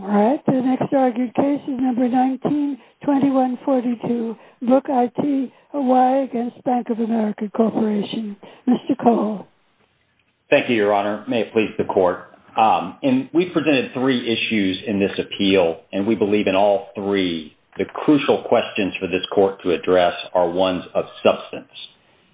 All right, the next argued case is number 19-2142, LookIT Oy v. Bank of America Corporation. Mr. Cole. Thank you, Your Honor. May it please the Court. We presented three issues in this appeal, and we believe in all three. The crucial questions for this Court to address are ones of substance.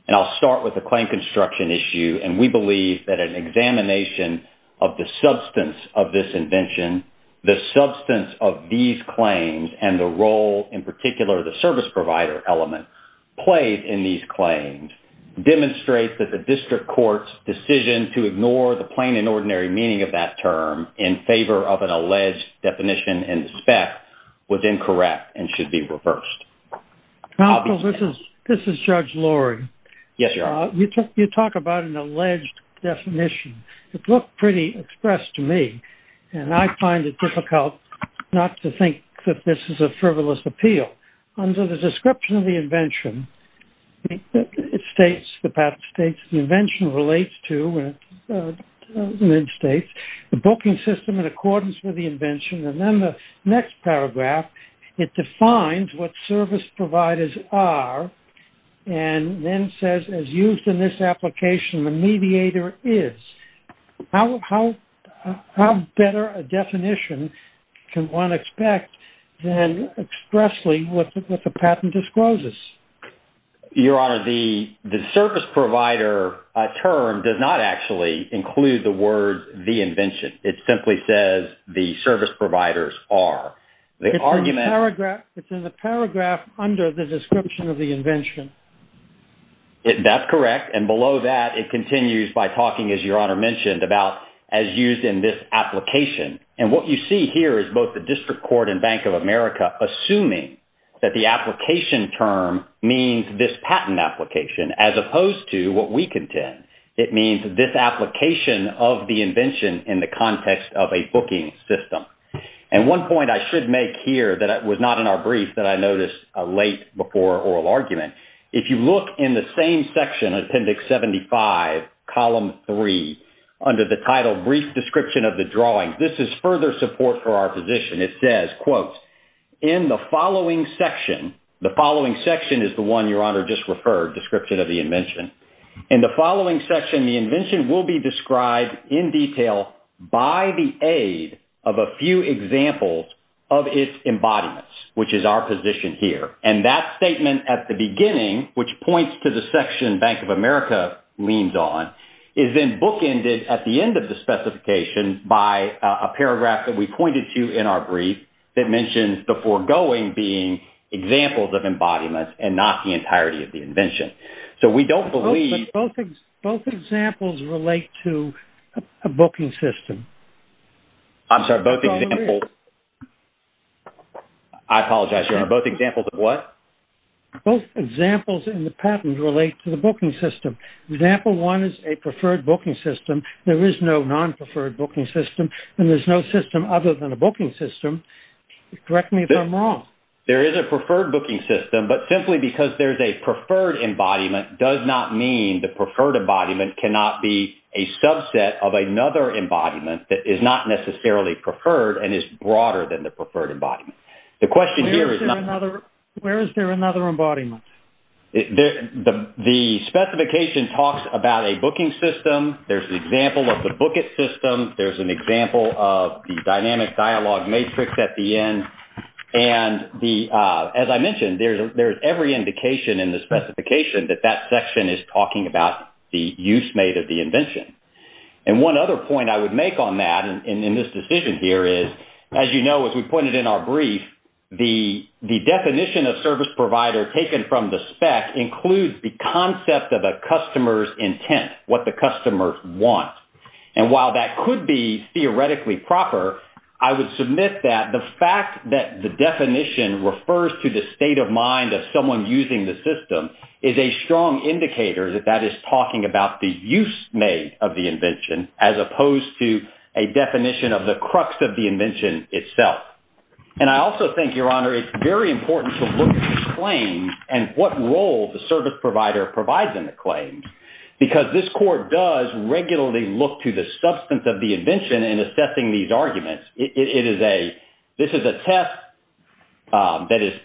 And I'll start with the claim construction issue, and we believe that an examination of the substance of this invention, the substance of these claims, and the role, in particular, of the service provider element played in these claims, demonstrate that the District Court's decision to ignore the plain and ordinary meaning of that term in favor of an alleged definition in the spec was incorrect and should be reversed. I'll be second. This is Judge Loring. Yes, Your Honor. You talk about an alleged definition. It looked pretty expressed to me, and I find it difficult not to think that this is a frivolous appeal. Under the description of the invention, it states, the patent states, the invention relates to, and it states, the booking system in accordance with the invention. And then the next paragraph, it defines what service providers are, and then says, as used in this application, the mediator is. How better a definition can one expect than expressly what the patent discloses? Your Honor, the service provider term does not actually include the word the invention. It simply says the service providers are. It's in the paragraph under the description of the invention. That's correct. And below that, it continues by talking, as Your Honor mentioned, about as used in this application. And what you see here is both the District Court and Bank of America assuming that the application term means this patent application, as opposed to what we contend. It means this application of the invention in the context of a booking system. And one point I should make here that was not in our brief that I noticed late before oral argument, if you look in the same section, Appendix 75, Column 3, under the title Brief Description of the Drawings, this is further support for our position. It says, quote, in the following section, the following section is the one Your Honor just referred, description of the invention. In the following section, the invention will be described in detail by the aid of a few examples of its embodiments, which is our position here. And that statement at the beginning, which points to the section Bank of America leans on, is then bookended at the end of the specification by a paragraph that we pointed to in our brief that mentions the foregoing being examples of embodiments and not the entirety of the invention. So we don't believe... Both examples relate to a booking system. I'm sorry, both examples... I apologize, Your Honor. Both examples of what? Both examples in the patent relate to the booking system. Example one is a preferred booking system. There is no non-preferred booking system, and there's no system other than a booking system. Correct me if I'm wrong. There is a preferred booking system, but simply because there's a preferred embodiment does not mean the preferred embodiment cannot be a subset of another embodiment that is not necessarily preferred and is broader than the preferred embodiment. The question here is... Where is there another embodiment? The specification talks about a booking system. There's an example of the booket system. There's an example of the dynamic dialogue matrix at the end. And as I mentioned, there's every indication in the specification that that section is talking about the use made of the invention. And one other point I would make on that in this decision here is, as you know, as we pointed in our brief, the definition of service provider taken from the spec includes the concept of a customer's intent, what the customer wants. And while that could be theoretically proper, I would submit that the fact that the definition refers to the state of mind of someone using the system is a strong indicator that that is talking about the use made of the invention itself. And I also think, Your Honor, it's very important to look at the claims and what role the service provider provides in the claims, because this court does regularly look to the substance of the invention in assessing these arguments. This is a test that is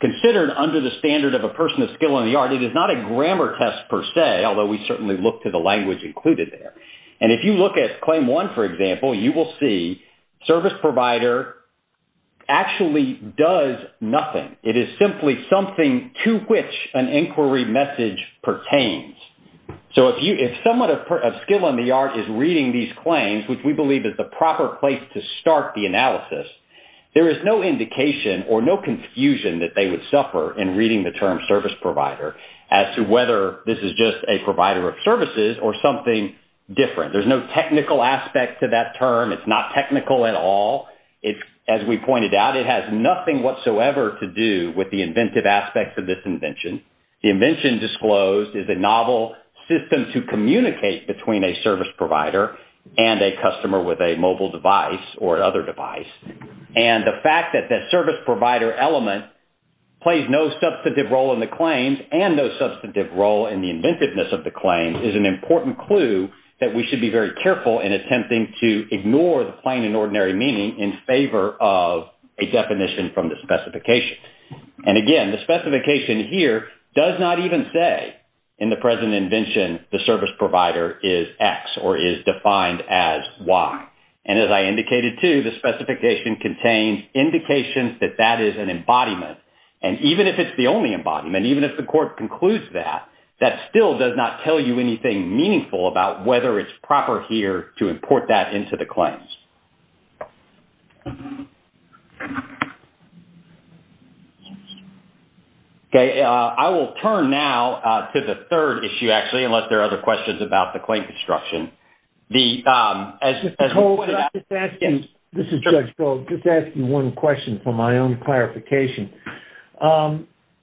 considered under the standard of a person of skill in the art. It is not a grammar test per se, although we certainly look to the language included there. And if you look at claim one, for example, you will see service provider actually does nothing. It is simply something to which an inquiry message pertains. So if someone of skill in the art is reading these claims, which we believe is the proper place to start the analysis, there is no indication or no confusion that they would suffer in reading the term service provider as to whether this is just a provider of services or something different. There's no technical aspect to that term. It's not technical at all. As we pointed out, it has nothing whatsoever to do with the inventive aspects of this invention. The invention disclosed is a novel system to communicate between a service provider and a customer with a mobile device or other device. And the fact that that service provider element plays no substantive role in the claims and no substantive role in the inventiveness of the claim is an important clue that we should be very careful in attempting to ignore the plain and ordinary meaning in favor of a definition from the specification. And again, the specification here does not even say in the present invention the service provider is X or is defined as Y. And as I indicated too, the specification contains indications that that is an embodiment. And even if it's the only embodiment, even if the court concludes that, that still does not tell you anything meaningful about whether it's proper here to import that into the claims. Okay. I will turn now to the third issue, actually, unless there are other questions about the claim construction. The... This is Judge Gold. Just asking one question for my own clarification.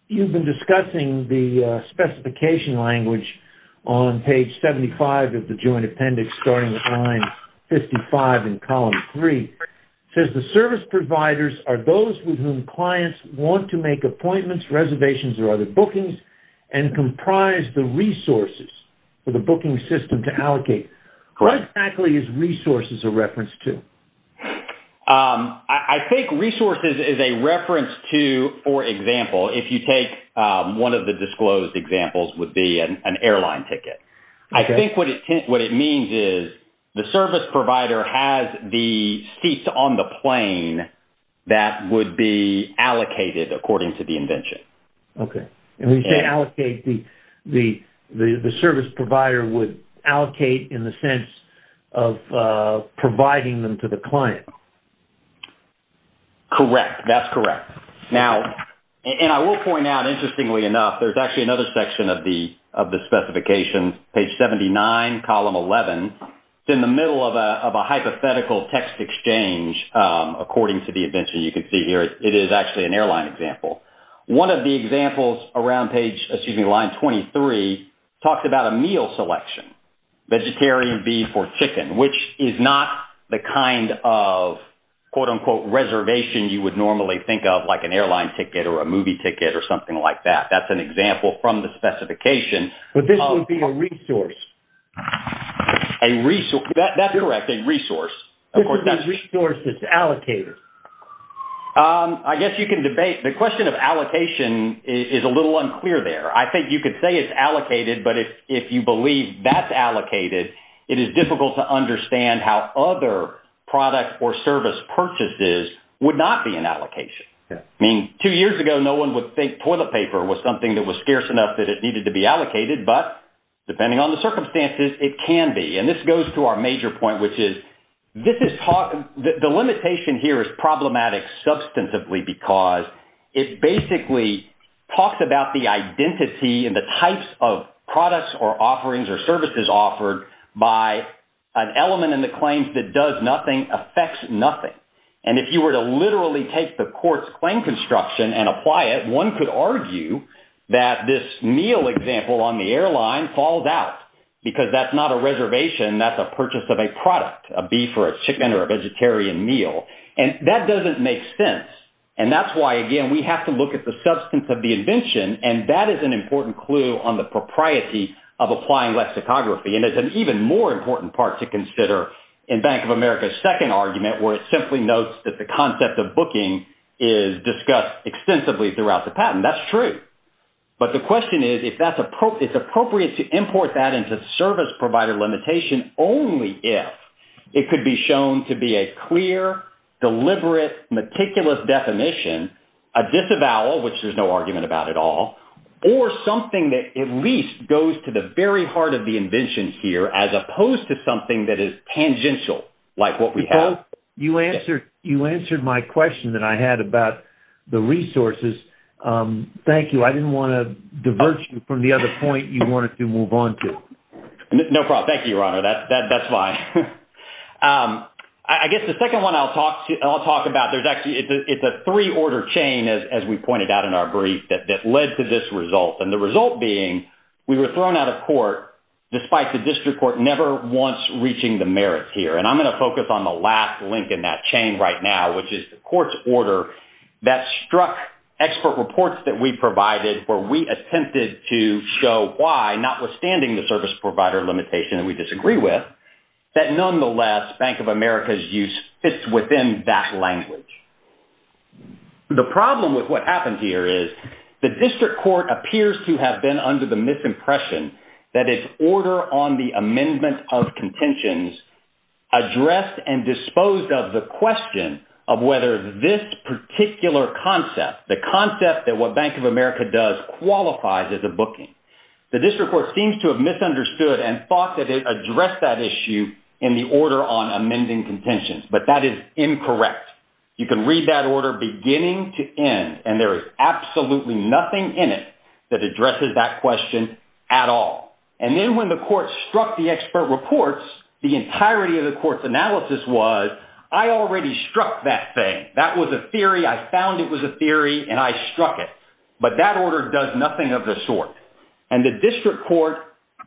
You've been discussing the specification language on page 75 of the Joint Appendix starting with line 55 in column 3. It says, the service providers are those with whom clients want to make appointments, reservations, or other bookings and comprise the resources for the correct... What exactly is resources a reference to? I think resources is a reference to, for example, if you take one of the disclosed examples would be an airline ticket. I think what it means is the service provider has the seats on the plane that would be allocated according to the invention. Okay. And when you say allocate, the service provider would allocate in the sense of providing them to the client? Correct. That's correct. Now, and I will point out, interestingly enough, there's actually another section of the specification, page 79, column 11. It's in the middle of a hypothetical text exchange according to the invention you can see here. It is actually an airline example. One of the examples around page, excuse me, line 23 talks about a meal selection, vegetarian, beef, or chicken, which is not the kind of, quote-unquote, reservation you would normally think of like an airline ticket or a movie ticket or something like that. That's an example from the specification. But this would be a resource. A resource. That's correct, a resource. This is a resource that's allocated. I guess you can debate. The question of allocation is a little unclear there. I think you could say it's allocated, but if you believe that's allocated, it is difficult to understand how other product or service purchases would not be an allocation. I mean, two years ago, no one would think toilet paper was something that was scarce enough that it needed to be allocated, but depending on the circumstances, it can be. And this goes to our major point, which is the limitation here is problematic substantively because it basically talks about the identity and the types of products or offerings or services offered by an element in the claims that does nothing, affects nothing. And if you were to literally take the court's claim construction and apply it, one could argue that this meal example on the airline falls out because that's not a reservation, that's a purchase of a product, a beef or a chicken or a vegetarian meal. And that doesn't make sense. And that's why, again, we have to look at the substance of the invention, and that is an important clue on the propriety of applying lexicography. And it's an even more important part to consider in Bank of America's second argument where it simply notes that the concept of booking is discussed extensively throughout the patent. That's true. But the question is, it's appropriate to import that into service provider limitation only if it could be shown to be a clear, deliberate, meticulous definition, a disavowal, which there's no argument about at all, or something that at least goes to the very heart of the invention here as opposed to something that is tangential like what we have. You answered my question that I had about the resources. Thank you. I didn't want to divert you from the other point you wanted to move on to. No problem. Thank you, Your Honor. That's fine. I guess the second one I'll talk about, it's a three-order chain, as we pointed out in our brief, that led to this result. And the result being we were thrown out of court despite the district court never once reaching the merits here. And I'm going to focus on the last link in that chain right now, which is the court's order that struck expert reports that we provided where we attempted to show why, notwithstanding the service provider limitation that we disagree with, that nonetheless, Bank of America's use fits within that language. The problem with what happened here is the district court appears to have been under the misimpression that its order on the amendment of contentions addressed and disposed of the question of whether this particular concept, the concept that what Bank of America does qualifies as a booking. The district court seems to have misunderstood and thought that it addressed that issue in the order on amending contentions. But that is incorrect. You can read that order beginning to end, and there is absolutely nothing in it that addresses that question at all. And then when the court struck the expert reports, the entirety of the court's analysis was, I already struck that thing. That was a theory. I found it was a theory, and I struck it. But that order does nothing of the sort. And the district court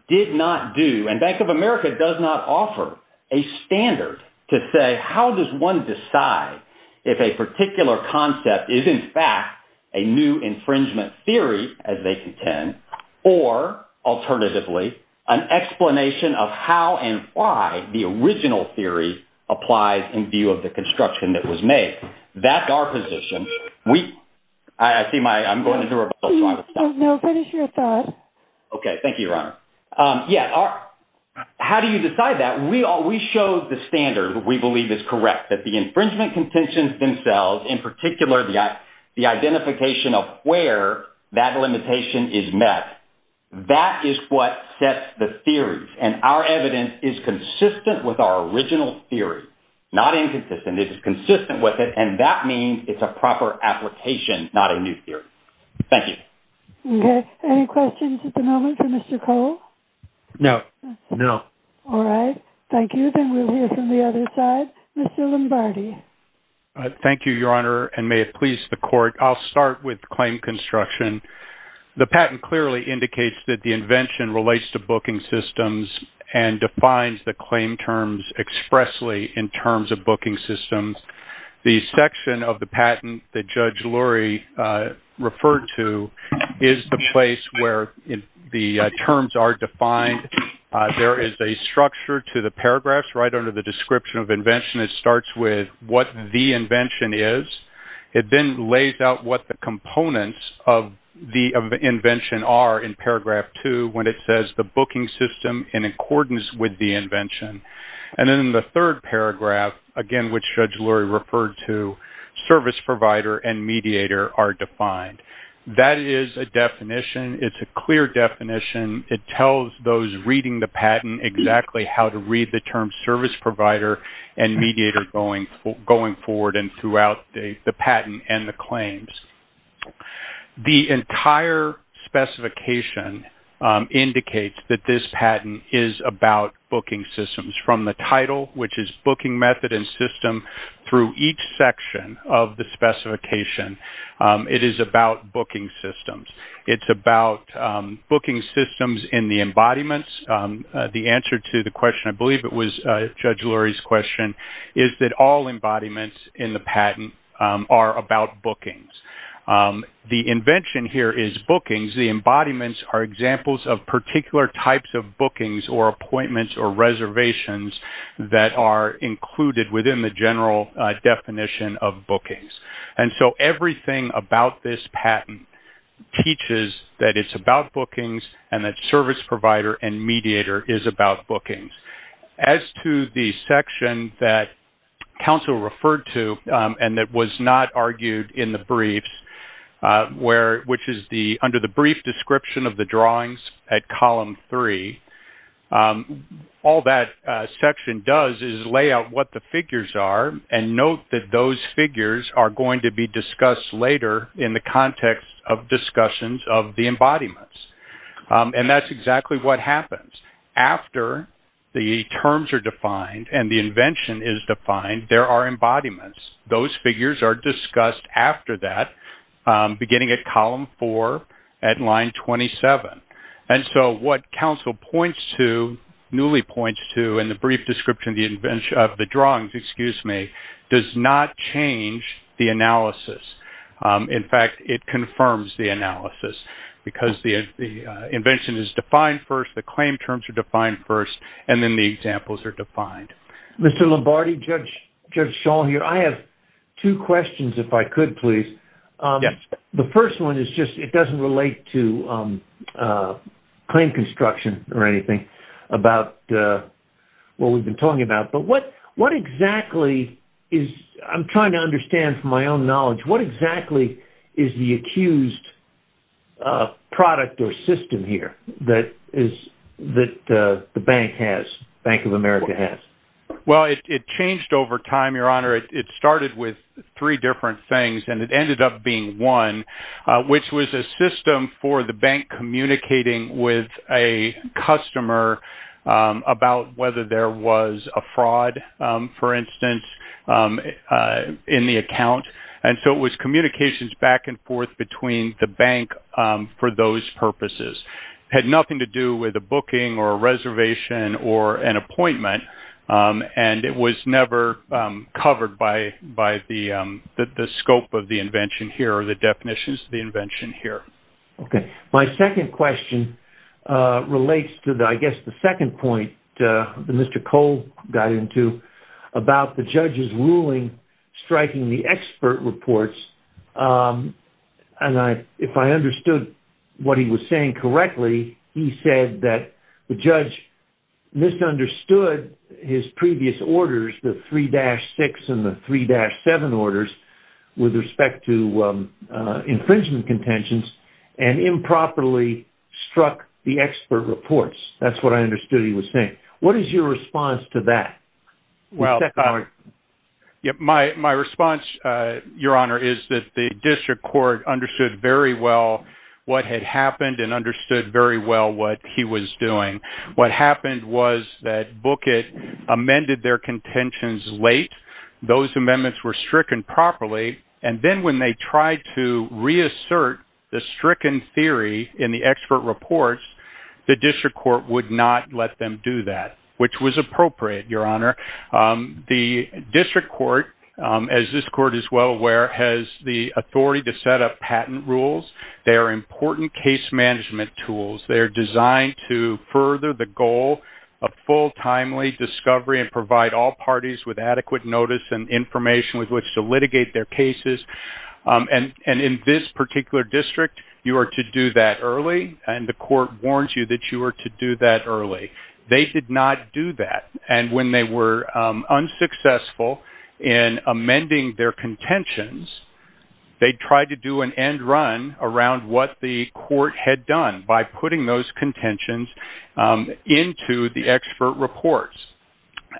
did not do, and Bank of America does not offer a standard to say how does one decide if a particular concept is, in fact, a new infringement theory, as they contend, or alternatively, an explanation of how and why the original theory applies in view of the construction that was made. That's our position. We, I see my, I'm going to do a rebuttal, so I will stop. No, finish your thought. Okay, thank you, Your Honor. Yeah, how do you decide that? We show the standard we believe is correct, that the infringement contentions themselves, in particular, the identification of where that limitation is met, that is what sets the theories. And our evidence is consistent with our original theory, not inconsistent. It is consistent with it, and that means it's a proper application, not a new theory. Thank you. Okay, any questions at the moment for Mr. Cole? No, no. All right, thank you. Then we'll hear from the other side. Mr. Lombardi. Thank you, Your Honor, and may it please the court. I'll start with claim construction. The patent clearly indicates that the invention relates to booking systems and defines the claim terms expressly in terms of booking systems. The section of patent that Judge Lurie referred to is the place where the terms are defined. There is a structure to the paragraphs right under the description of invention. It starts with what the invention is. It then lays out what the components of the invention are in paragraph two, when it says the booking system in accordance with the invention. And then in the third paragraph, again, which Judge Lurie referred to, service provider and mediator are defined. That is a definition. It's a clear definition. It tells those reading the patent exactly how to read the term service provider and mediator going forward and throughout the patent and the claims. The entire specification indicates that this patent is about booking systems from the title, which is booking method and system through each section of the specification. It is about booking systems. It's about booking systems in the embodiments. The answer to the question, I believe it was Judge Lurie's question, is that all embodiments in the patent are about bookings. The invention here is bookings. The embodiments are examples of particular types of bookings or appointments or reservations that are included within the general definition of bookings. And so everything about this patent teaches that it's about bookings and that service provider and mediator is about bookings. As to the section that counsel referred to and that was not argued in the briefs, which is under the brief description of the drawings at column three, all that section does is lay out what the figures are and note that those figures are going to be discussed later in the context of discussions of the embodiments. And that's exactly what happens. After the terms are defined and the invention is defined, there are embodiments. Those figures are discussed after that, beginning at column four at line 27. And so what counsel points to, newly points to, in the brief description of the drawings, excuse me, does not change the analysis. In fact, it confirms the analysis because the invention is defined first, the claim terms are defined first, and then the examples are defined. Mr. Lombardi, Judge Shaw here. I have two questions if I could, please. The first one is just, it doesn't relate to claim construction or anything about what we've been talking about, but what exactly is, I'm trying to understand from my own knowledge, what exactly is the accused product or system here that the bank has, Bank of America has? Well, it changed over time, Your Honor. It started with three different things and it ended up being one, which was a system for the bank communicating with a customer about whether there was a fraud, for instance, in the account. And so it was communications back and forth between the bank for those purposes. Had nothing to do with a booking or a reservation or an appointment. And it was never covered by the scope of the invention here or the definitions of the invention here. Okay. My second question relates to, I guess, the second point that Mr. Cole got into about the judge's ruling striking the expert reports. And if I understood what he was saying correctly, he said that the judge misunderstood his previous orders, the 3-6 and the 3-7 orders with respect to infringement contentions and improperly struck the expert reports. That's what I understood he was saying. What is your response to that? Well, my response, Your Honor, is that the district court understood very well what had happened and understood very well what he was doing. What happened was that Bookett amended their contentions late. Those amendments were stricken properly. And then when they tried to reassert the stricken theory in the expert reports, the district court would not let them do that, which was appropriate, Your Honor. The district court, as this court is well aware, has the authority to set up patent rules. They are important case management tools. They are designed to further the goal of full, timely discovery and provide all parties with adequate notice and information with which to litigate their cases. And in this particular district, you are to do that early. And the unsuccessful in amending their contentions, they tried to do an end run around what the court had done by putting those contentions into the expert reports.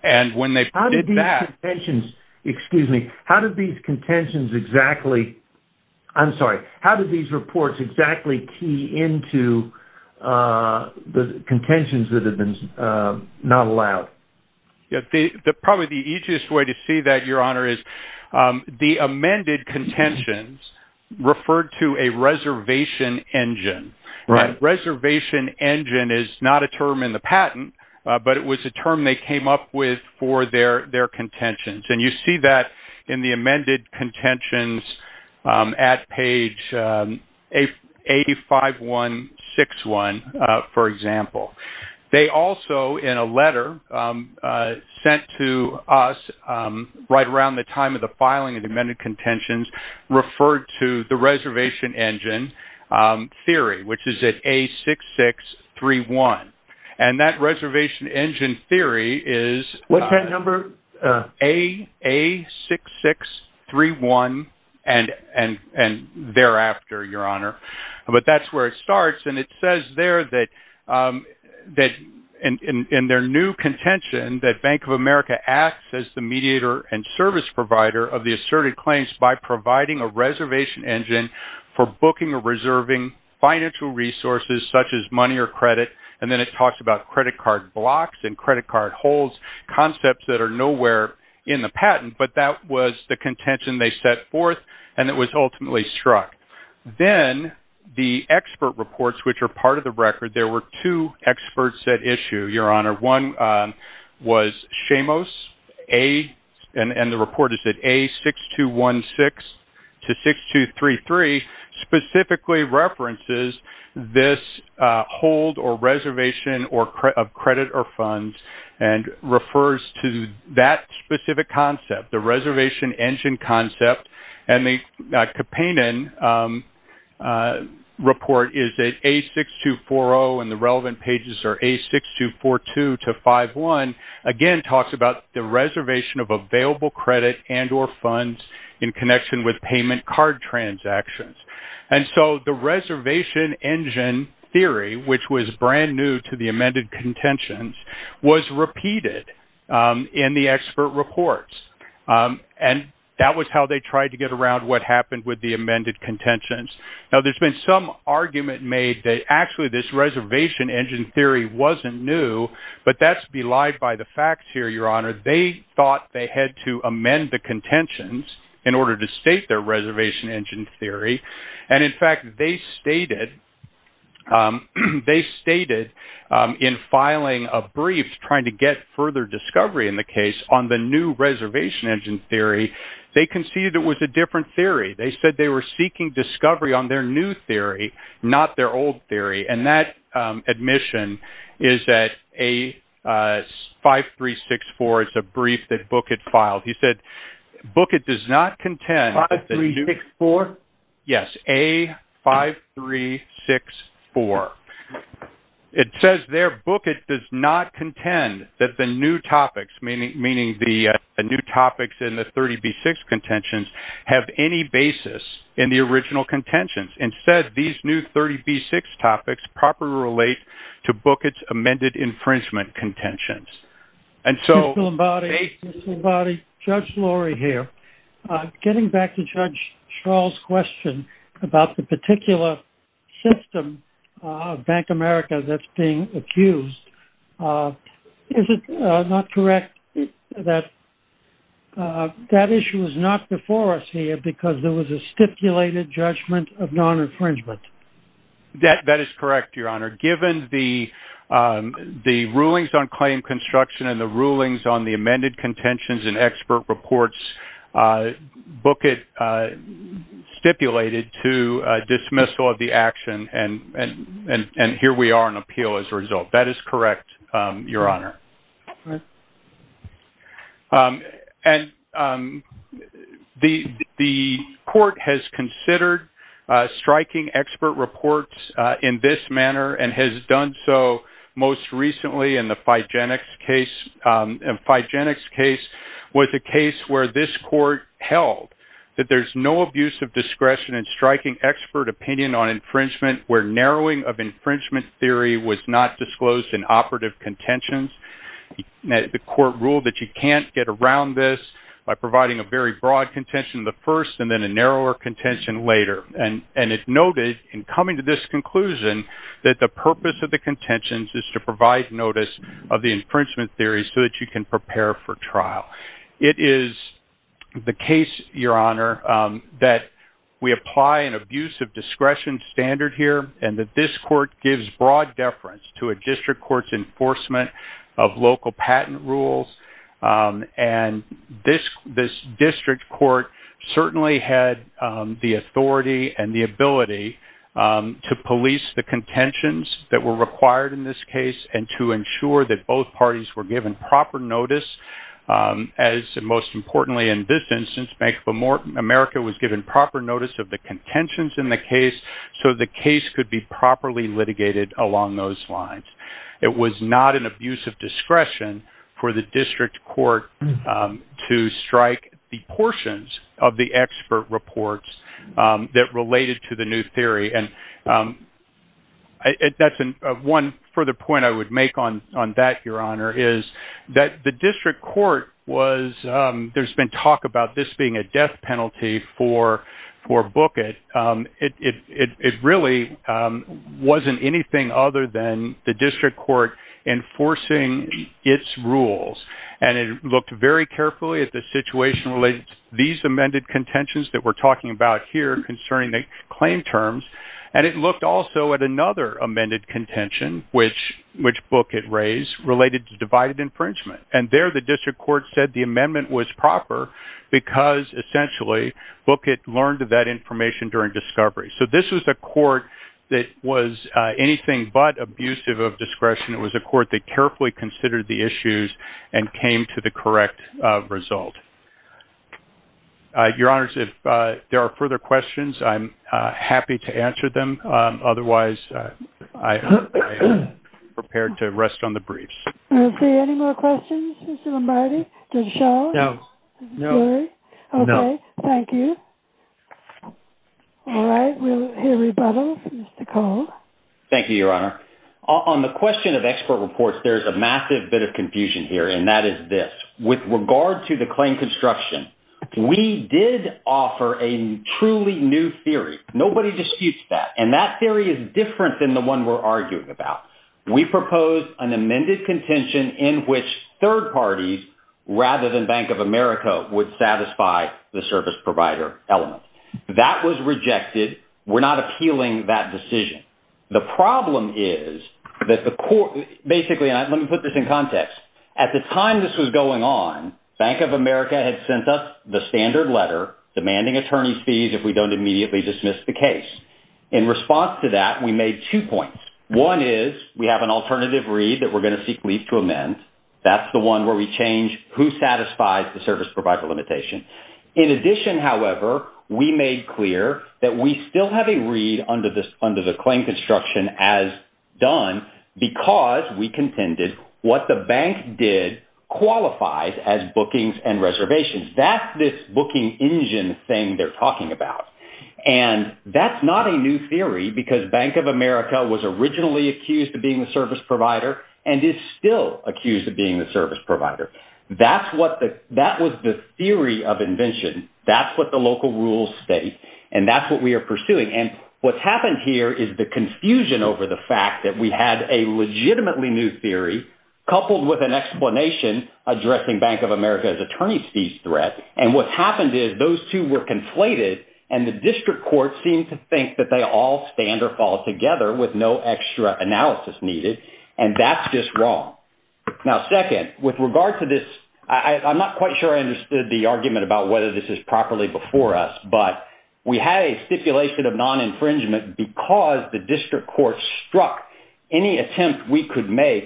And when they did that... Excuse me. How did these contentions exactly... I'm sorry. How did these reports exactly key into the contentions that had been not allowed? Probably the easiest way to see that, Your Honor, is the amended contentions referred to a reservation engine. Reservation engine is not a term in the patent, but it was a term they came up with for their contentions. And you see that in the amended contentions at page 85161, for example. They also, in a letter sent to us right around the time of the filing of the amended contentions, referred to the reservation engine theory, which is at A6631. And that reservation engine theory is... A6631 and thereafter, Your Honor. But that's where it starts. And it says there that in their new contention, that Bank of America acts as the mediator and service provider of the asserted claims by providing a reservation engine for booking or reserving financial resources such as money or credit. And then it talks about credit card blocks and credit card concepts that are nowhere in the patent, but that was the contention they set forth, and it was ultimately struck. Then the expert reports, which are part of the record, there were two experts at issue, Your Honor. One was Shamos, and the report is at A6216 to 6233, specifically references this hold or reservation of credit or funds and refers to that specific concept, the reservation engine concept. And the Kapanen report is at A6240, and the relevant pages are A6242 to 51. Again, talks about the reservation of available credit and or funds in connection with payment card transactions. And so the reservation engine theory, which was brand new to the amended contentions, was repeated in the expert reports. And that was how they tried to get around what happened with the amended contentions. Now, there's been some argument made that actually this reservation engine theory wasn't new, but that's belied by the facts here, Your Honor. They thought they had to amend the contentions in order to state their reservation engine theory. And in fact, they stated in filing a brief trying to get further discovery in the case on the new reservation engine theory, they conceded it was a different theory. They said they were seeking discovery on their new theory, not their old theory. And that admission is at A5364. It's a brief that Bookett filed. He said, Bookett does not contend... 5364? Yes, A5364. It says there, Bookett does not contend that the new topics, meaning the new topics in the 30B6 contentions, have any basis in the original contentions. Instead, these new 30B6 topics properly relate to Bookett's amended infringement contentions. And so... Mr. Lombardi, Judge Lorry here. Getting back to Judge Strahl's question about the particular system of Bank America that's being accused, is it not correct that that issue was not before us here because there was a stipulated judgment of non-infringement? That is correct, Your Honor. Given the rulings on claim construction and the rulings on the amended contentions and expert reports, Bookett stipulated to dismissal of the action and here we are on appeal as a result. That is correct, Your Honor. And the court has considered striking expert reports in this manner and has done so most recently in the Figenics case. Figenics case was a case where this court held that there's no abuse of discretion in striking expert opinion on infringement where narrowing of infringement theory was not disclosed in operative contentions. The court ruled that you can't get around this by providing a very broad contention the first and then a narrower contention later. And it noted in coming to this conclusion that the purpose of the contentions is to provide notice of the infringement theory so that you can prepare for trial. It is the case, Your Honor, that we apply an abuse of discretion standard here and that this court gives broad deference to a district court's enforcement of local patent rules. And this district court certainly had the authority and the ability to police the contentions that were required in this case and to ensure that both parties were given proper notice as most importantly in this instance Bank of America was given proper notice of the contentions in the case so the case could be properly litigated along those lines. It was not an abuse of discretion for the district court to strike the portions of the expert reports that related to the new theory. And that's one further point I would make on that, Your Honor, is that the district court was, there's been talk about this being a death penalty for Bookett. It really wasn't anything other than the district court enforcing its rules. And it looked very carefully at the situation related to these amended contentions that we're talking about here concerning the claim terms. And it looked also at another amended contention which Bookett raised related to divided infringement. And there the district court said the amendment was proper because essentially Bookett learned that information during discovery. So this was a court that was anything but abusive of discretion. It was a court that carefully considered the issues and came to the correct result. Your Honors, if there are further questions I'm happy to answer them. Otherwise I am prepared to rest on the briefs. Any more questions, Mr. Lombardi? Did it show? No. Okay, thank you. All right, we'll hear rebuttal from Mr. Cole. Thank you, Your Honor. On the question of expert reports, there's a massive bit of confusion here and that is this. With regard to the claim construction, we did offer a truly new theory. Nobody disputes that. And that theory is different than the one we're arguing about. We propose an amended contention in which third parties rather than Bank of America would satisfy the service provider element. That was rejected. We're not appealing that decision. The problem is that the court, basically, let me put this in context. At the time this was going on, Bank of America had sent us the standard letter demanding attorney fees if we don't immediately dismiss the case. In response to that, we made two points. One is we have an alternative read that we're going to seek leave to amend. That's the one where we change who satisfies the service provider limitation. In addition, however, we made clear that we still have a read under the claim construction as done because we contended what the bank did qualifies as bookings and reservations. That's this booking engine thing they're talking about. That's not a new theory because Bank of America was originally accused of being the service provider and is still accused of being the service provider. That was the theory of invention. That's what the local rules state and that's what we are pursuing. What's happened here is the confusion over the fact that we had a legitimately new theory coupled with an explanation addressing Bank of America's attorney fees threat. What's happened is those two were conflated and the district court seemed to think that they all stand or fall together with no extra analysis needed and that's just wrong. Now second, with regard to this, I'm not quite sure I understood the argument about whether this is properly before us, but we had a stipulation of non-infringement because the district court struck any attempt we could make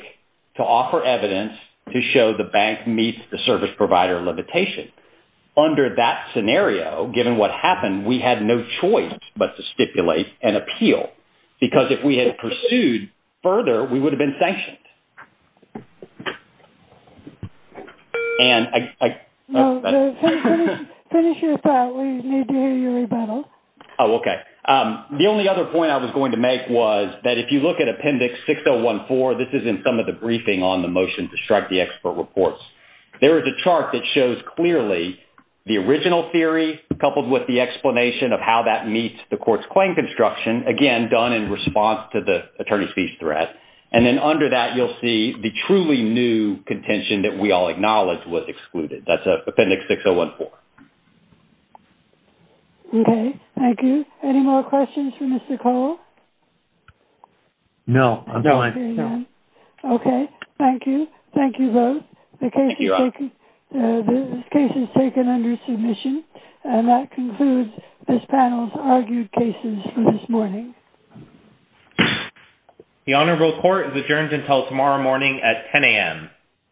to offer evidence to show the bank meets the service provider limitation. Under that scenario, given what happened, we had no choice but to stipulate an appeal because if we had pursued further we would have been sanctioned. And I finish your thought we need to hear your rebuttal. Oh okay. The only other point I was going to make was that if you look at appendix 6014, this is in some of the briefing on the motion to strike the expert reports. There is a chart that shows clearly the original theory coupled with the explanation of how that meets the court's claim construction, again done in response to the attorney fees threat, and then under that you'll see the truly new contention that we all acknowledge was excluded. That's appendix 6014. Okay, thank you. Any more questions for Mr. Cole? No, I'm fine. Okay, thank you. Thank you both. The case is taken under submission and that concludes this panel's argued cases for this morning. The honorable court is adjourned until tomorrow morning at 10 a.m.